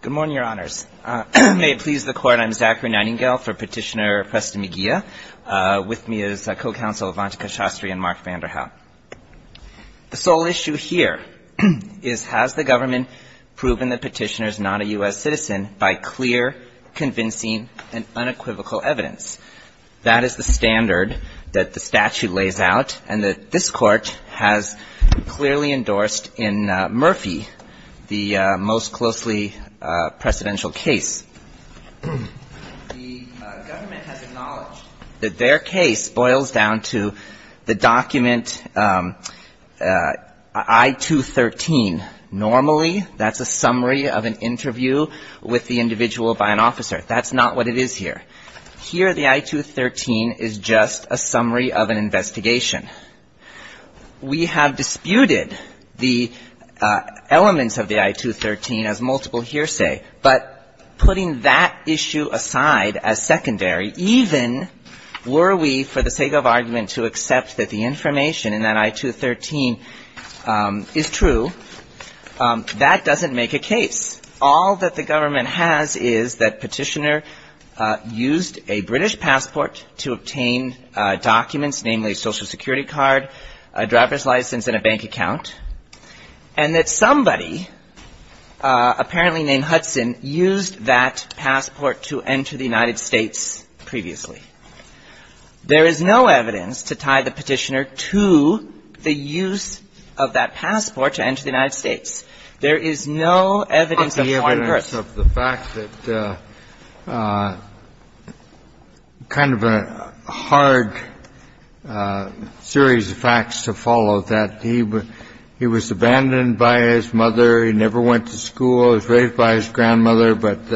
Good morning, Your Honors. May it please the Court, I'm Zachary Nightingale for Petitioner Preston Migiya, with me is Co-Counsel Avantika Shastri and Mark Vanderhaup. The sole issue here is has the government proven the petitioner is not a U.S. citizen by clear, convincing, and unequivocal evidence? That is the standard that the statute lays out, and that this Court has clearly endorsed in Murphy the most closely precedential case. The government has acknowledged that their case boils down to the document I-213. Normally, that's a summary of an interview with the individual by an officer. That's not what it is here. Here, the I-213 is just a summary of an investigation. We have disputed the elements of the I-213 as multiple hearsay, but putting that issue aside as secondary, even were we, for the sake of argument, to accept that the information in that I-213 is true, that doesn't make a case. All that the government has is that petitioner used a British passport to obtain documents, namely a Social Security card, a driver's license, and a bank account, and that somebody, apparently named Hudson, used that passport to enter the United States previously. There is no evidence to tie the petitioner to the use of that passport to enter the United States. There is no evidence of converse. Kennedy, of the fact that kind of a hard series of facts to follow, that he was abandoned by his mother, he never went to school, was raised by his grandmother, but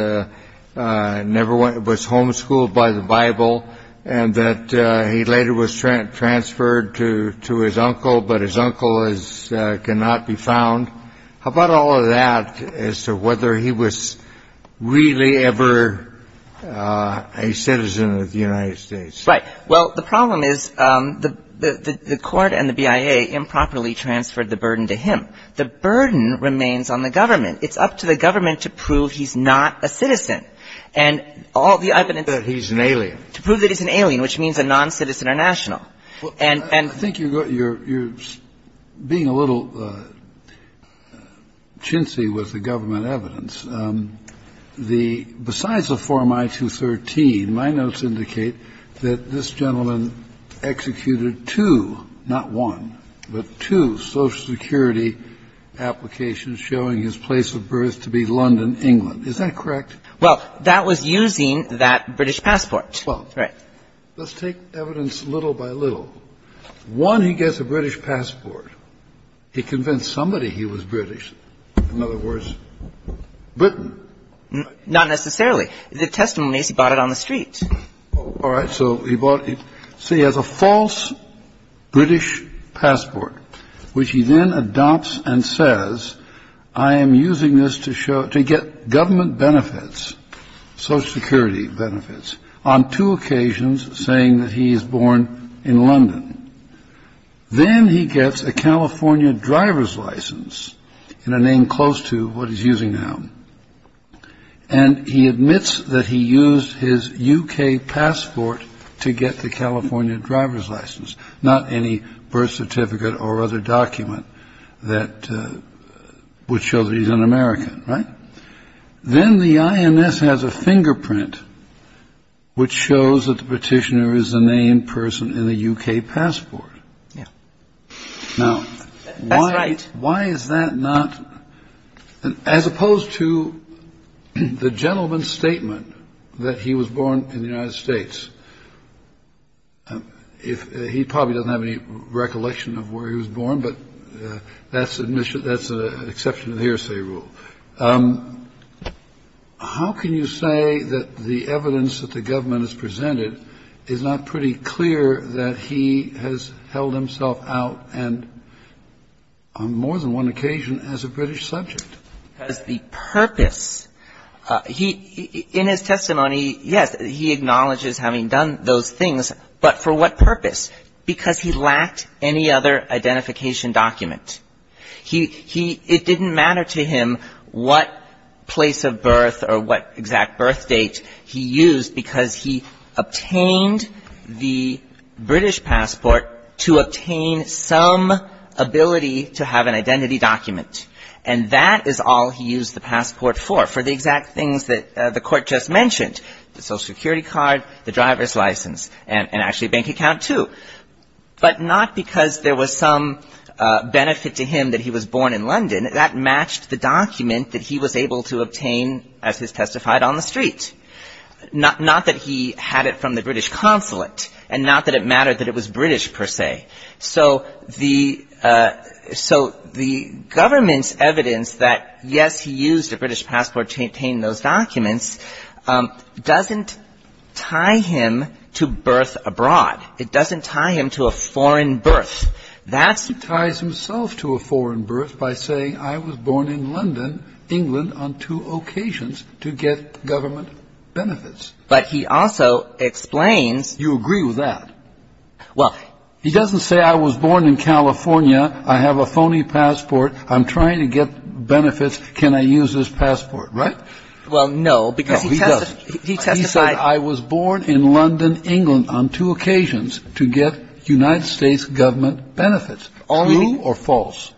never was homeschooled by the Bible, and that he later was transferred to his uncle, but his uncle cannot be found. How about all of that as to whether he was really ever a citizen of the United States? Right. Well, the problem is the court and the BIA improperly transferred the burden to him. The burden remains on the government. It's up to the government to prove he's not a citizen. And all the evidence to prove that he's an alien, which means a noncitizen or national. And I think you're being a little chintzy with the government evidence. Besides the Form I-213, my notes indicate that this gentleman executed two, not one, but two Social Security applications showing his place of birth to be London, England. Is that correct? Well, that was using that British passport. Well, let's take evidence little by little. One, he gets a British passport. He convinced somebody he was British. In other words, Britain. Not necessarily. The testimony is he bought it on the street. All right. So he bought it. So he has a false British passport, which he then adopts and says, I am using this to show to get government benefits. Social Security benefits on two occasions, saying that he is born in London. Then he gets a California driver's license in a name close to what he's using now. And he admits that he used his U.K. passport to get the California driver's license, not any birth certificate or other document that would show that he's an American. Right. Then the INS has a fingerprint which shows that the petitioner is a named person in the U.K. passport. Now, right. Why is that not as opposed to the gentleman's statement that he was born in the United States? If he probably doesn't have any recollection of where he was born, but that's admission. That's an exception to the hearsay rule. How can you say that the evidence that the government has presented is not pretty clear that he has held himself out and, on more than one occasion, as a British subject? The purpose. In his testimony, yes, he acknowledges having done those things. But for what purpose? Because he lacked any other identification document. It didn't matter to him what place of birth or what exact birth date he used because he obtained the British passport to obtain some ability to have an identity document. And that is all he used the passport for, for the exact things that the court just mentioned, the Social Security card, the driver's license, and actually a bank account, too. But not because there was some benefit to him that he was born in London. That matched the document that he was able to obtain as he testified on the street. Not that he had it from the British consulate and not that it mattered that it was British, per se. So the government's evidence that, yes, he used a British passport to obtain those documents doesn't tie him to birth abroad. It doesn't tie him to a foreign birth. That's the question. He ties himself to a foreign birth by saying I was born in London, England, on two occasions to get government benefits. But he also explains. You agree with that? He doesn't say I was born in California. I have a phony passport. I'm trying to get benefits. Can I use this passport, right? Well, no, because he testified. He said I was born in London, England, on two occasions to get United States government benefits. True or false?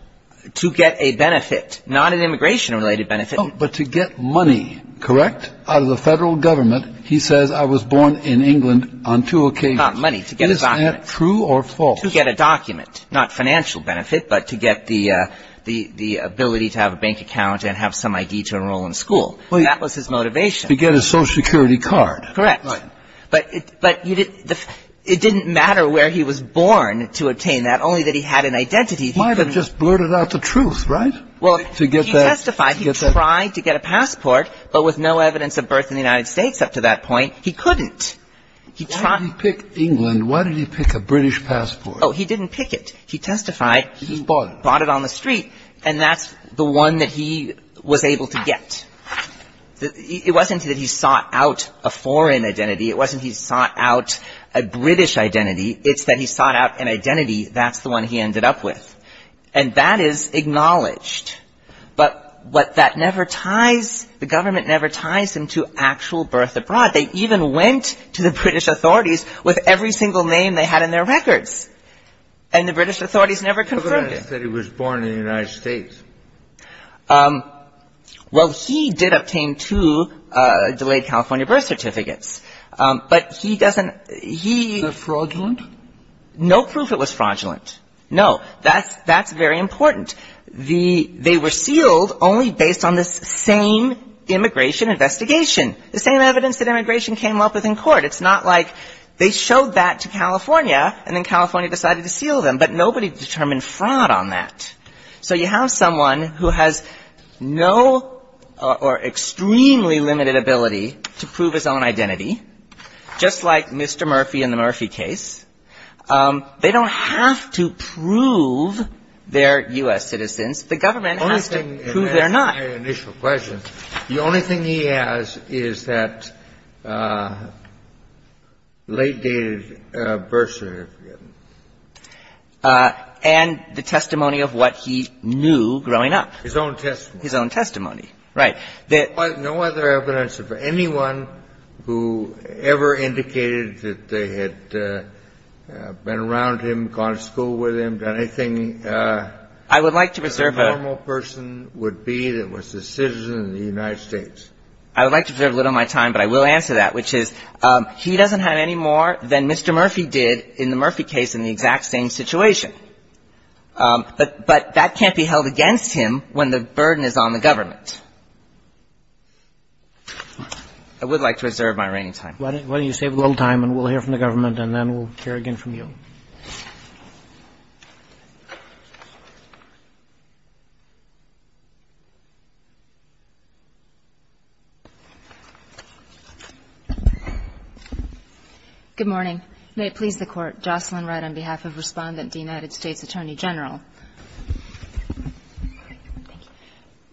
To get a benefit, not an immigration-related benefit. But to get money, correct, out of the federal government, he says I was born in England on two occasions. Not money, to get a document. Is that true or false? To get a document, not financial benefit, but to get the ability to have a bank account and have some I.D. to enroll in school. That was his motivation. To get a Social Security card. Correct. Right. But it didn't matter where he was born to obtain that, only that he had an identity. He might have just blurted out the truth, right? Well, he testified. He tried to get a passport, but with no evidence of birth in the United States up to that point, he couldn't. Why did he pick England? Why did he pick a British passport? Oh, he didn't pick it. He testified. He just bought it. Bought it on the street. And that's the one that he was able to get. It wasn't that he sought out a foreign identity. It wasn't he sought out a British identity. It's that he sought out an identity that's the one he ended up with. And that is acknowledged. But what that never ties, the government never ties him to actual birth abroad. They even went to the British authorities with every single name they had in their records. And the British authorities never confirmed it. The government said he was born in the United States. Well, he did obtain two delayed California birth certificates. But he doesn't ‑‑ Was it fraudulent? No proof it was fraudulent. No. That's very important. They were sealed only based on the same immigration investigation, the same evidence that immigration came up with in court. It's not like they showed that to California and then California decided to seal them. But nobody determined fraud on that. So you have someone who has no or extremely limited ability to prove his own identity, just like Mr. Murphy in the Murphy case. They don't have to prove they're U.S. citizens. The government has to prove they're not. My initial question, the only thing he has is that late‑dated birth certificate. And the testimony of what he knew growing up. His own testimony. His own testimony. Right. No other evidence of anyone who ever indicated that they had been around him, gone to school with him, done anything. I would like to reserve a ‑‑ I would like to reserve a little of my time, but I will answer that, which is he doesn't have any more than Mr. Murphy did in the Murphy case in the exact same situation. But that can't be held against him when the burden is on the government. I would like to reserve my remaining time. Why don't you save a little time and we'll hear from the government and then we'll hear again from you. Thank you. Good morning. May it please the Court. Jocelyn Wright on behalf of Respondent to the United States Attorney General. Thank you.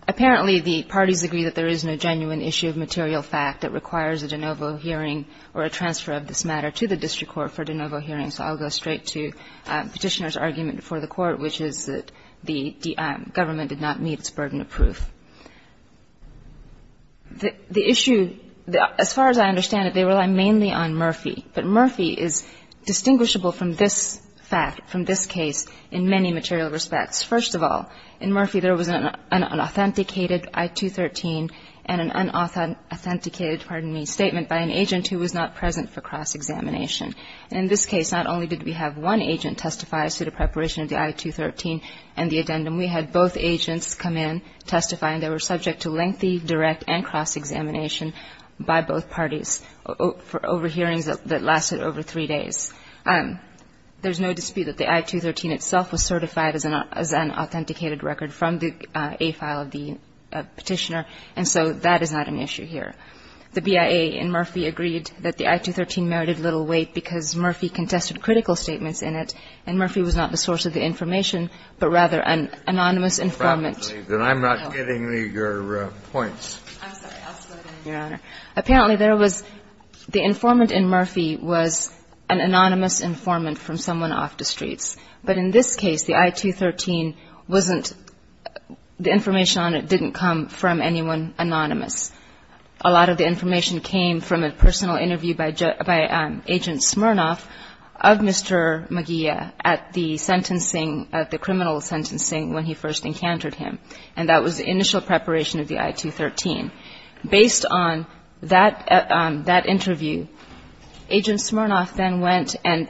Apparently, the parties agree that there is no genuine issue of material fact that requires a de novo hearing or a transfer of this matter to the district court for de novo hearings. So I'll go straight to Petitioner's argument before the Court, which is that the government did not meet its burden of proof. The issue, as far as I understand it, they rely mainly on Murphy. But Murphy is distinguishable from this fact, from this case, in many material respects. First of all, in Murphy there was an unauthenticated I-213 and an unauthenticated, pardon me, statement by an agent who was not present for cross-examination. In this case, not only did we have one agent testify as to the preparation of the I-213 and the addendum, we had both agents come in, testify, and they were subject to lengthy, direct, and cross-examination by both parties for over hearings that lasted over three days. There's no dispute that the I-213 itself was certified as an authenticated record from the A file of the Petitioner, and so that is not an issue here. The BIA in Murphy agreed that the I-213 merited little weight because Murphy contested critical statements in it, and Murphy was not the source of the information, but rather an anonymous informant. And I'm not getting your points. I'm sorry. Your Honor. Apparently there was, the informant in Murphy was an anonymous informant from someone off the streets. But in this case, the I-213 wasn't, the information on it didn't come from anyone anonymous. A lot of the information came from a personal interview by Agent Smirnoff of Mr. Magee at the sentencing, at the criminal sentencing when he first encountered him, and that was the initial preparation of the I-213. Based on that interview, Agent Smirnoff then went and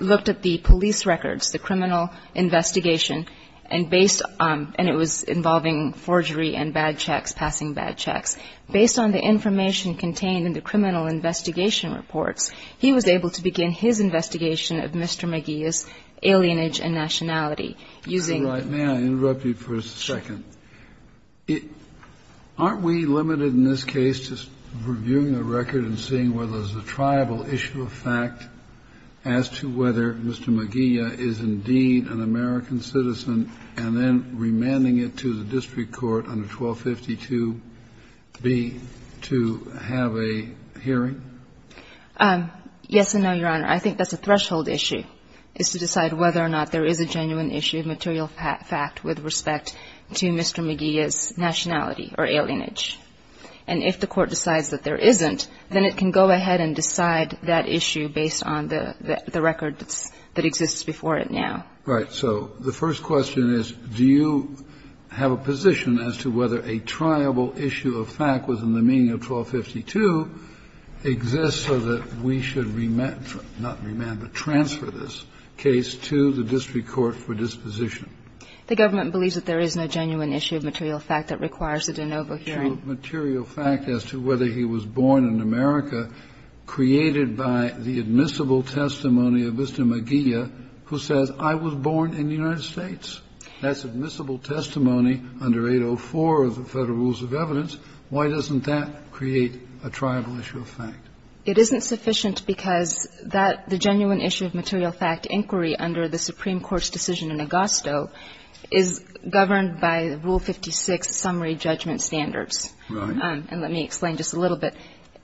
looked at the police records, the criminal investigation, and based on, and it was involving forgery and bad checks, passing bad checks. Based on the information contained in the criminal investigation reports, he was able to begin his investigation of Mr. Magee's alienage and nationality using. May I interrupt you for a second? Aren't we limited in this case to reviewing the record and seeing whether there's a triable issue of fact as to whether Mr. Magee is indeed an American citizen and then remanding it to the district court under 1252B to have a hearing? Yes and no, Your Honor. I think that's a threshold issue, is to decide whether or not there is a genuine issue of material fact with respect to Mr. Magee's nationality or alienage. And if the court decides that there isn't, then it can go ahead and decide that issue based on the record that exists before it now. Right. So the first question is, do you have a position as to whether a triable issue of fact within the meaning of 1252 exists so that we should remand, not remand, but transfer this case to the district court for disposition? The government believes that there is no genuine issue of material fact that requires it in overhearing. Material fact as to whether he was born in America, created by the admissible testimony of Mr. Magee, who says, I was born in the United States. That's admissible testimony under 804 of the Federal Rules of Evidence. Why doesn't that create a triable issue of fact? It isn't sufficient because that, the genuine issue of material fact inquiry under the Supreme Court's decision in Augusto is governed by Rule 56 summary judgment standards. Right. And let me explain just a little bit.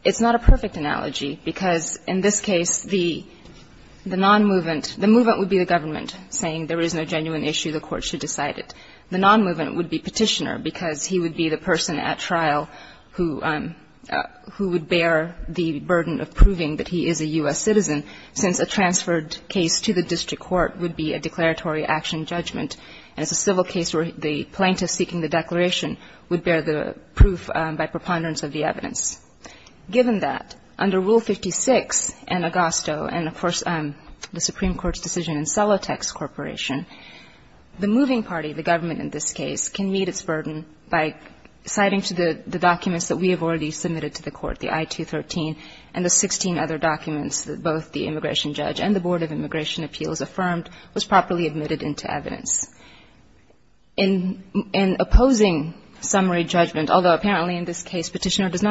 It's not a perfect analogy, because in this case, the nonmovement, the movement would be the government saying there is no genuine issue, the court should decide it. The nonmovement would be Petitioner, because he would be the person at trial who would bear the burden of proving that he is a U.S. citizen, since a transferred case to the district court would be a declaratory action judgment, and it's a civil case where the plaintiff seeking the declaration would bear the proof by preponderance of the evidence. Given that, under Rule 56 in Augusto and, of course, the Supreme Court's decision in Celotex Corporation, the moving party, the government in this case, can meet its requirements. And in this case, Petitioner does not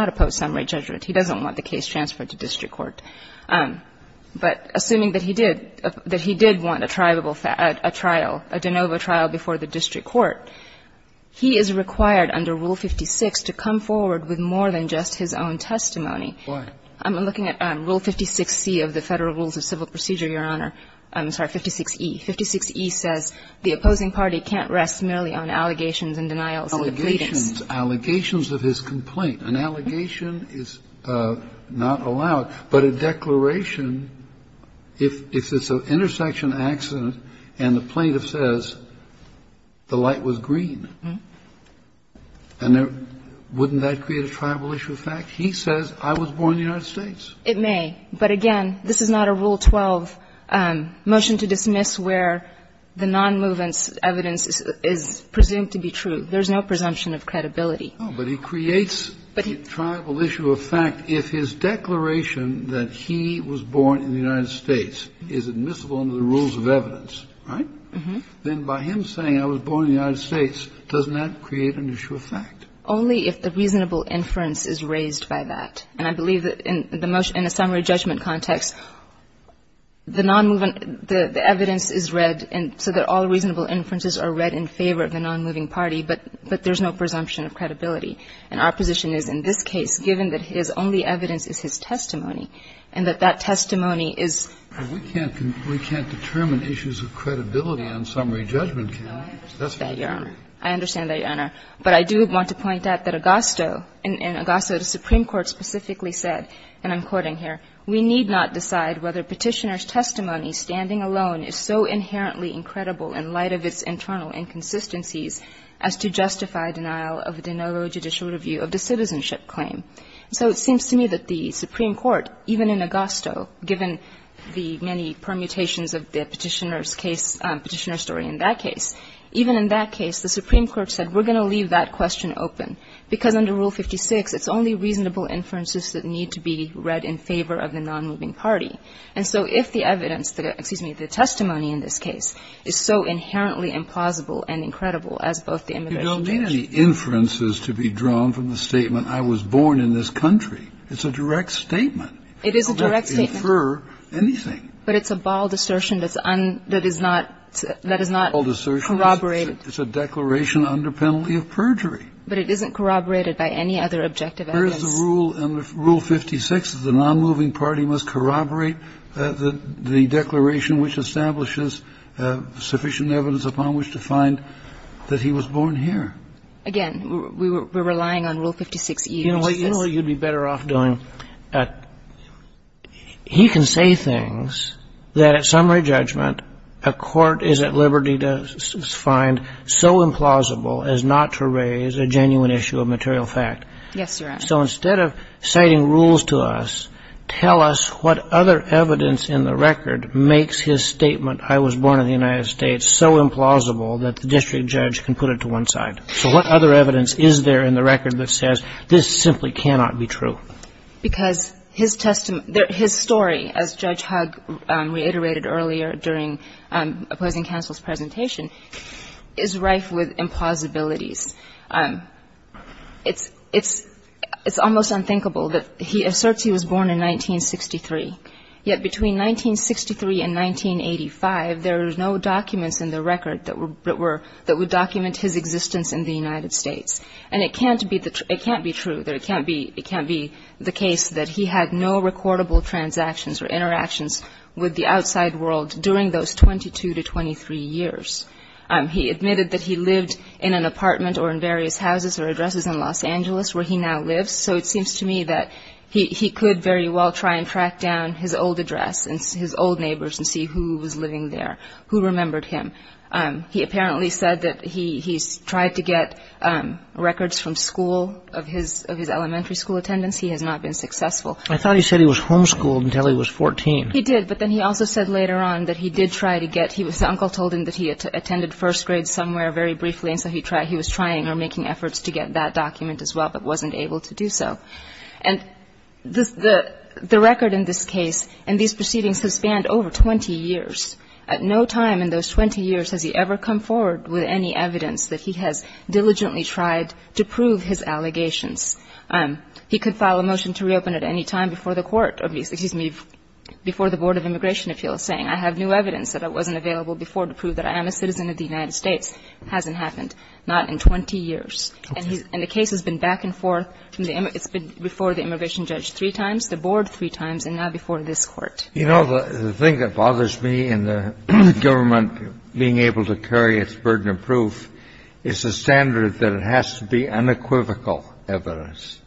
oppose summary judgment. He doesn't want the case transferred to district court. But assuming that he did, that he did want a tribal, a trial, a de novo trial before the district court, he is required under Rule 56 to come forward with a summary It's not a summary judgment. He is required to come forward with more than just his own testimony. Why? I'm looking at Rule 56C of the Federal Rules of Civil Procedure, Your Honor. I'm sorry, 56E. 56E says the opposing party can't rest merely on allegations and denials and pleadings. Allegations. Allegations of his complaint. An allegation is not allowed. But a declaration, if it's an intersection accident and the plaintiff says the light was green, and wouldn't that create a tribal issue of fact? He says I was born in the United States. It may. But again, this is not a Rule 12 motion to dismiss where the non-movement evidence is presumed to be true. There is no presumption of credibility. No, but he creates a tribal issue of fact. If his declaration that he was born in the United States is admissible under the rules of evidence, right, then by him saying I was born in the United States, doesn't that create an issue of fact? Only if the reasonable inference is raised by that. And I believe that in the summary judgment context, the non-movement, the evidence is read and so that all reasonable inferences are read in favor of the non-moving party, but there's no presumption of credibility. And our position is in this case, given that his only evidence is his testimony and that that testimony is. We can't determine issues of credibility on summary judgment. That's not true. I understand that, Your Honor. But I do want to point out that Augusto, in Augusto, the Supreme Court specifically said, and I'm quoting here, We need not decide whether Petitioner's testimony standing alone is so inherently incredible in light of its internal inconsistencies as to justify denial of a de novo judicial review of the citizenship claim. So it seems to me that the Supreme Court, even in Augusto, given the many permutations of the Petitioner's case, Petitioner's story in that case, even in that case, the Supreme Court said we're going to leave that question open, because under Rule 56, it's only reasonable inferences that need to be read in favor of the non-moving party. And so if the evidence, excuse me, the testimony in this case is so inherently I was born in this country. It's a direct statement. It is a direct statement. It doesn't infer anything. But it's a bald assertion that's un – that is not corroborated. It's a declaration under penalty of perjury. But it isn't corroborated by any other objective evidence. There is a rule in Rule 56 that the non-moving party must corroborate the declaration which establishes sufficient evidence upon which to find that he was born here. Again, we're relying on Rule 56E. You know what you'd be better off doing? He can say things that at summary judgment a court is at liberty to find so implausible as not to raise a genuine issue of material fact. Yes, Your Honor. So instead of citing rules to us, tell us what other evidence in the record makes his statement, I was born in the United States, so implausible that the district judge can put it to one side. So what other evidence is there in the record that says this simply cannot be true? Because his testimony – his story, as Judge Hugg reiterated earlier during opposing counsel's presentation, is rife with implausibilities. It's almost unthinkable that he asserts he was born in 1963, yet between 1963 and 1963, he was born in the United States. And it can't be true that it can't be the case that he had no recordable transactions or interactions with the outside world during those 22 to 23 years. He admitted that he lived in an apartment or in various houses or addresses in Los Angeles where he now lives, so it seems to me that he could very well try and track down his old address and his old neighbors and see who was living there, who remembered him. He apparently said that he tried to get records from school of his elementary school attendance. He has not been successful. I thought he said he was homeschooled until he was 14. He did, but then he also said later on that he did try to get – his uncle told him that he attended first grade somewhere very briefly, and so he was trying or making efforts to get that document as well, but wasn't able to do so. And the record in this case in these proceedings has spanned over 20 years. At no time in those 20 years has he ever come forward with any evidence that he has diligently tried to prove his allegations. He could file a motion to reopen at any time before the court, excuse me, before the Board of Immigration Appeals saying I have new evidence that wasn't available before to prove that I am a citizen of the United States. Hasn't happened. Not in 20 years. And the case has been back and forth from the – it's been before the immigration judge three times, the board three times, and now before this Court. You know, the thing that bothers me in the government being able to carry its burden of proof is the standard that it has to be unequivocal evidence.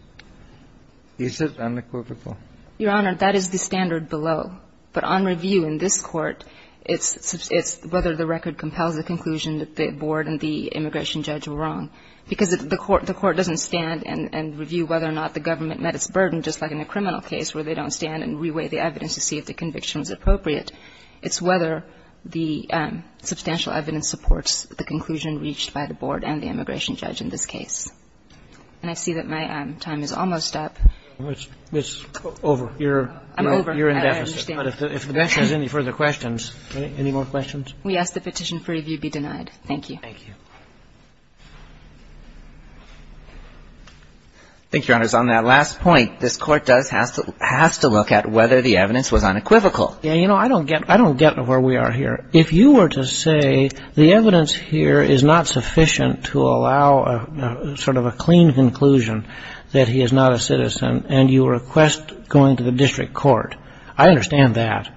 Is it unequivocal? Your Honor, that is the standard below. But on review in this Court, it's whether the record compels the conclusion that the board and the immigration judge were wrong. Because the court doesn't stand and review whether or not the government met its burden just like in a criminal case where they don't stand and reweigh the evidence to see if the conviction is appropriate. It's whether the substantial evidence supports the conclusion reached by the board and the immigration judge in this case. And I see that my time is almost up. It's over. You're in deficit. I'm over. I understand. But if the bench has any further questions, any more questions? We ask the petition for review be denied. Thank you. Thank you. Thank you, Your Honors. On that last point, this Court does have to look at whether the evidence was unequivocal. Yeah, you know, I don't get where we are here. If you were to say the evidence here is not sufficient to allow sort of a clean conclusion that he is not a citizen and you request going to the district court, I understand that.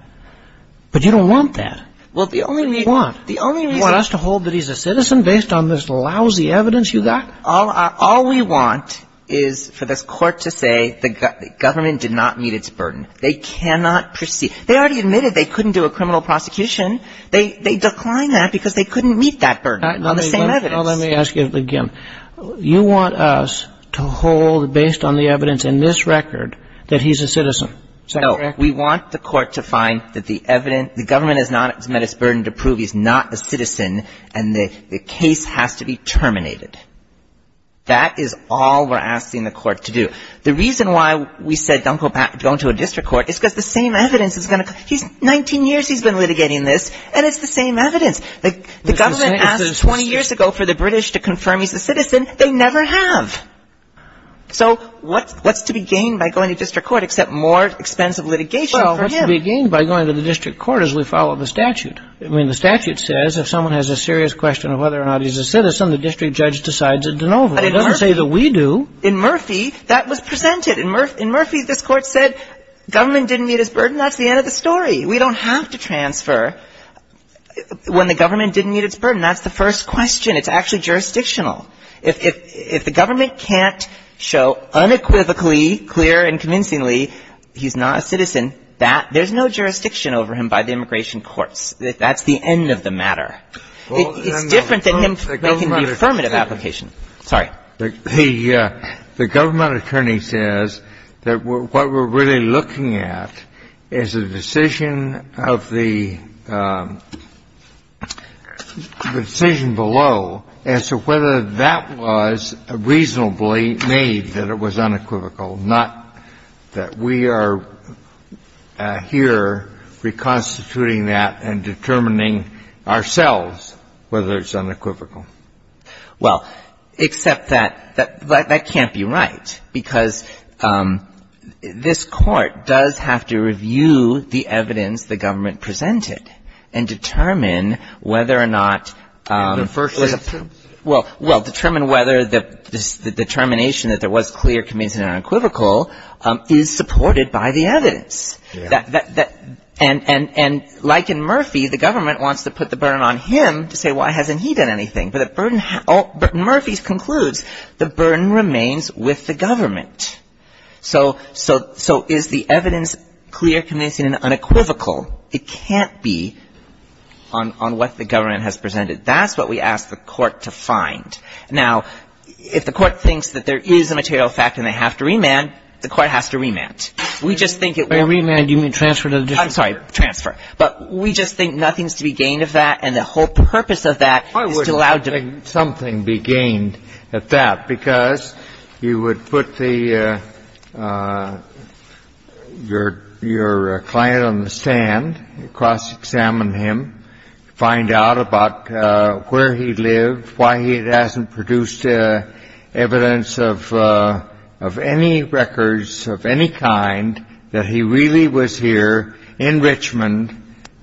But you don't want that. Well, the only reason you want us to hold that he's a citizen basically is because based on this lousy evidence you got? All we want is for this Court to say the government did not meet its burden. They cannot proceed. They already admitted they couldn't do a criminal prosecution. They declined that because they couldn't meet that burden on the same evidence. Well, let me ask you again. You want us to hold, based on the evidence in this record, that he's a citizen. Is that correct? No. We want the Court to find that the evidence the government has not met its burden to prove he's not a citizen and the case has to be terminated. That is all we're asking the Court to do. The reason why we said don't go back, don't go to a district court is because the same evidence is going to come. He's 19 years, he's been litigating this, and it's the same evidence. The government asked 20 years ago for the British to confirm he's a citizen. They never have. So what's to be gained by going to district court except more expensive litigation for him? What's to be gained by going to the district court is we follow the statute. I mean, the statute says if someone has a serious question of whether or not he's a citizen, the district judge decides it's a no vote. It doesn't say that we do. In Murphy, that was presented. In Murphy, this Court said government didn't meet its burden. That's the end of the story. We don't have to transfer when the government didn't meet its burden. That's the first question. It's actually jurisdictional. And there's no jurisdiction over him by the immigration courts. That's the end of the matter. It's different than making the affirmative application. Sorry. The government attorney says that what we're really looking at is a decision of the decision below as to whether that was reasonably made that it was unequivocal, not that we are here reconstituting that and determining ourselves whether it's unequivocal. Well, except that that can't be right, because this Court does have to review the evidence the government presented and determine whether or not the first legislation was clear, convincing, and unequivocal. Well, determine whether the determination that there was clear, convincing, and unequivocal is supported by the evidence. And like in Murphy, the government wants to put the burden on him to say why hasn't he done anything. But Murphy concludes the burden remains with the government. So is the evidence clear, convincing, and unequivocal? It can't be on what the government has presented. That's what we ask the Court to find. Now, if the Court thinks that there is a material fact and they have to remand, the Court has to remand. We just think it will be. By remand, do you mean transfer to the district court? I'm sorry, transfer. But we just think nothing is to be gained of that, and the whole purpose of that is to allow to be. At that, because you would put your client on the stand, cross-examine him, find out about where he lived, why he hasn't produced evidence of any records of any kind that he really was here in Richmond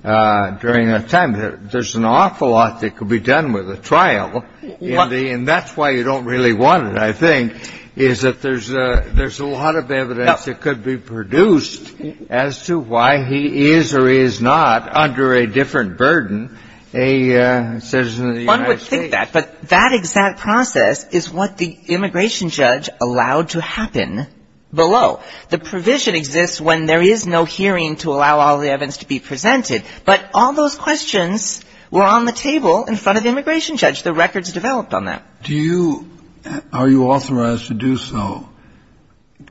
during that time. And there's an awful lot that could be done with a trial, and that's why you don't really want it, I think, is that there's a lot of evidence that could be produced as to why he is or is not, under a different burden, a citizen of the United States. One would think that, but that exact process is what the immigration judge allowed to happen below. The provision exists when there is no hearing to allow all the evidence to be presented, but all those questions were on the table in front of the immigration judge. The records developed on that. Do you – are you authorized to do so?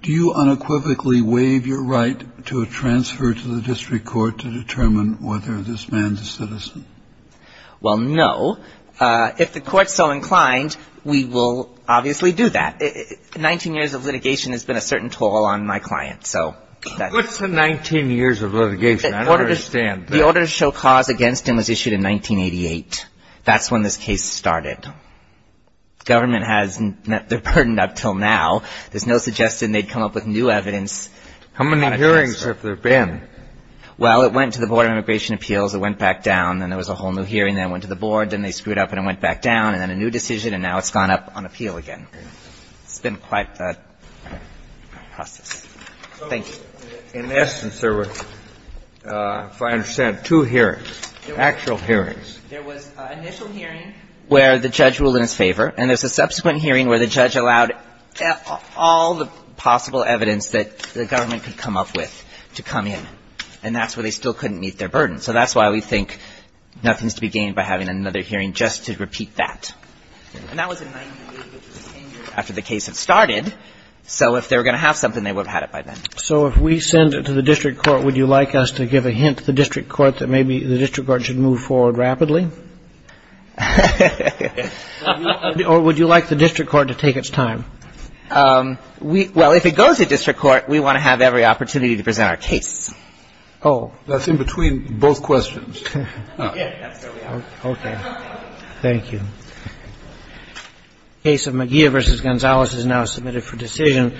Do you unequivocally waive your right to a transfer to the district court to determine whether this man's a citizen? Well, no. If the court's so inclined, we will obviously do that. Nineteen years of litigation has been a certain toll on my client, so that's – What's the 19 years of litigation? I don't understand. The order to show cause against him was issued in 1988. That's when this case started. Government has – they're burdened up until now. There's no suggestion they'd come up with new evidence. How many hearings have there been? Well, it went to the Board of Immigration Appeals, it went back down, then there was a whole new hearing, then it went to the Board, then they screwed up and it went back down, and then a new decision, and now it's gone up on appeal again. It's been quite the process. Thank you. In essence, there were, if I understand, two hearings, actual hearings. There was an initial hearing where the judge ruled in his favor, and there's a subsequent hearing where the judge allowed all the possible evidence that the government could come up with to come in. And that's where they still couldn't meet their burden. So that's why we think nothing's to be gained by having another hearing just to repeat that. And that was in 1988, which was the same year after the case had started. So if they were going to have something, they would have had it by then. So if we send it to the district court, would you like us to give a hint to the district court that maybe the district court should move forward rapidly? Or would you like the district court to take its time? Well, if it goes to district court, we want to have every opportunity to present our case. Oh. That's in between both questions. Okay. Thank you. The case of McGeough v. Gonzalez is now submitted for decision.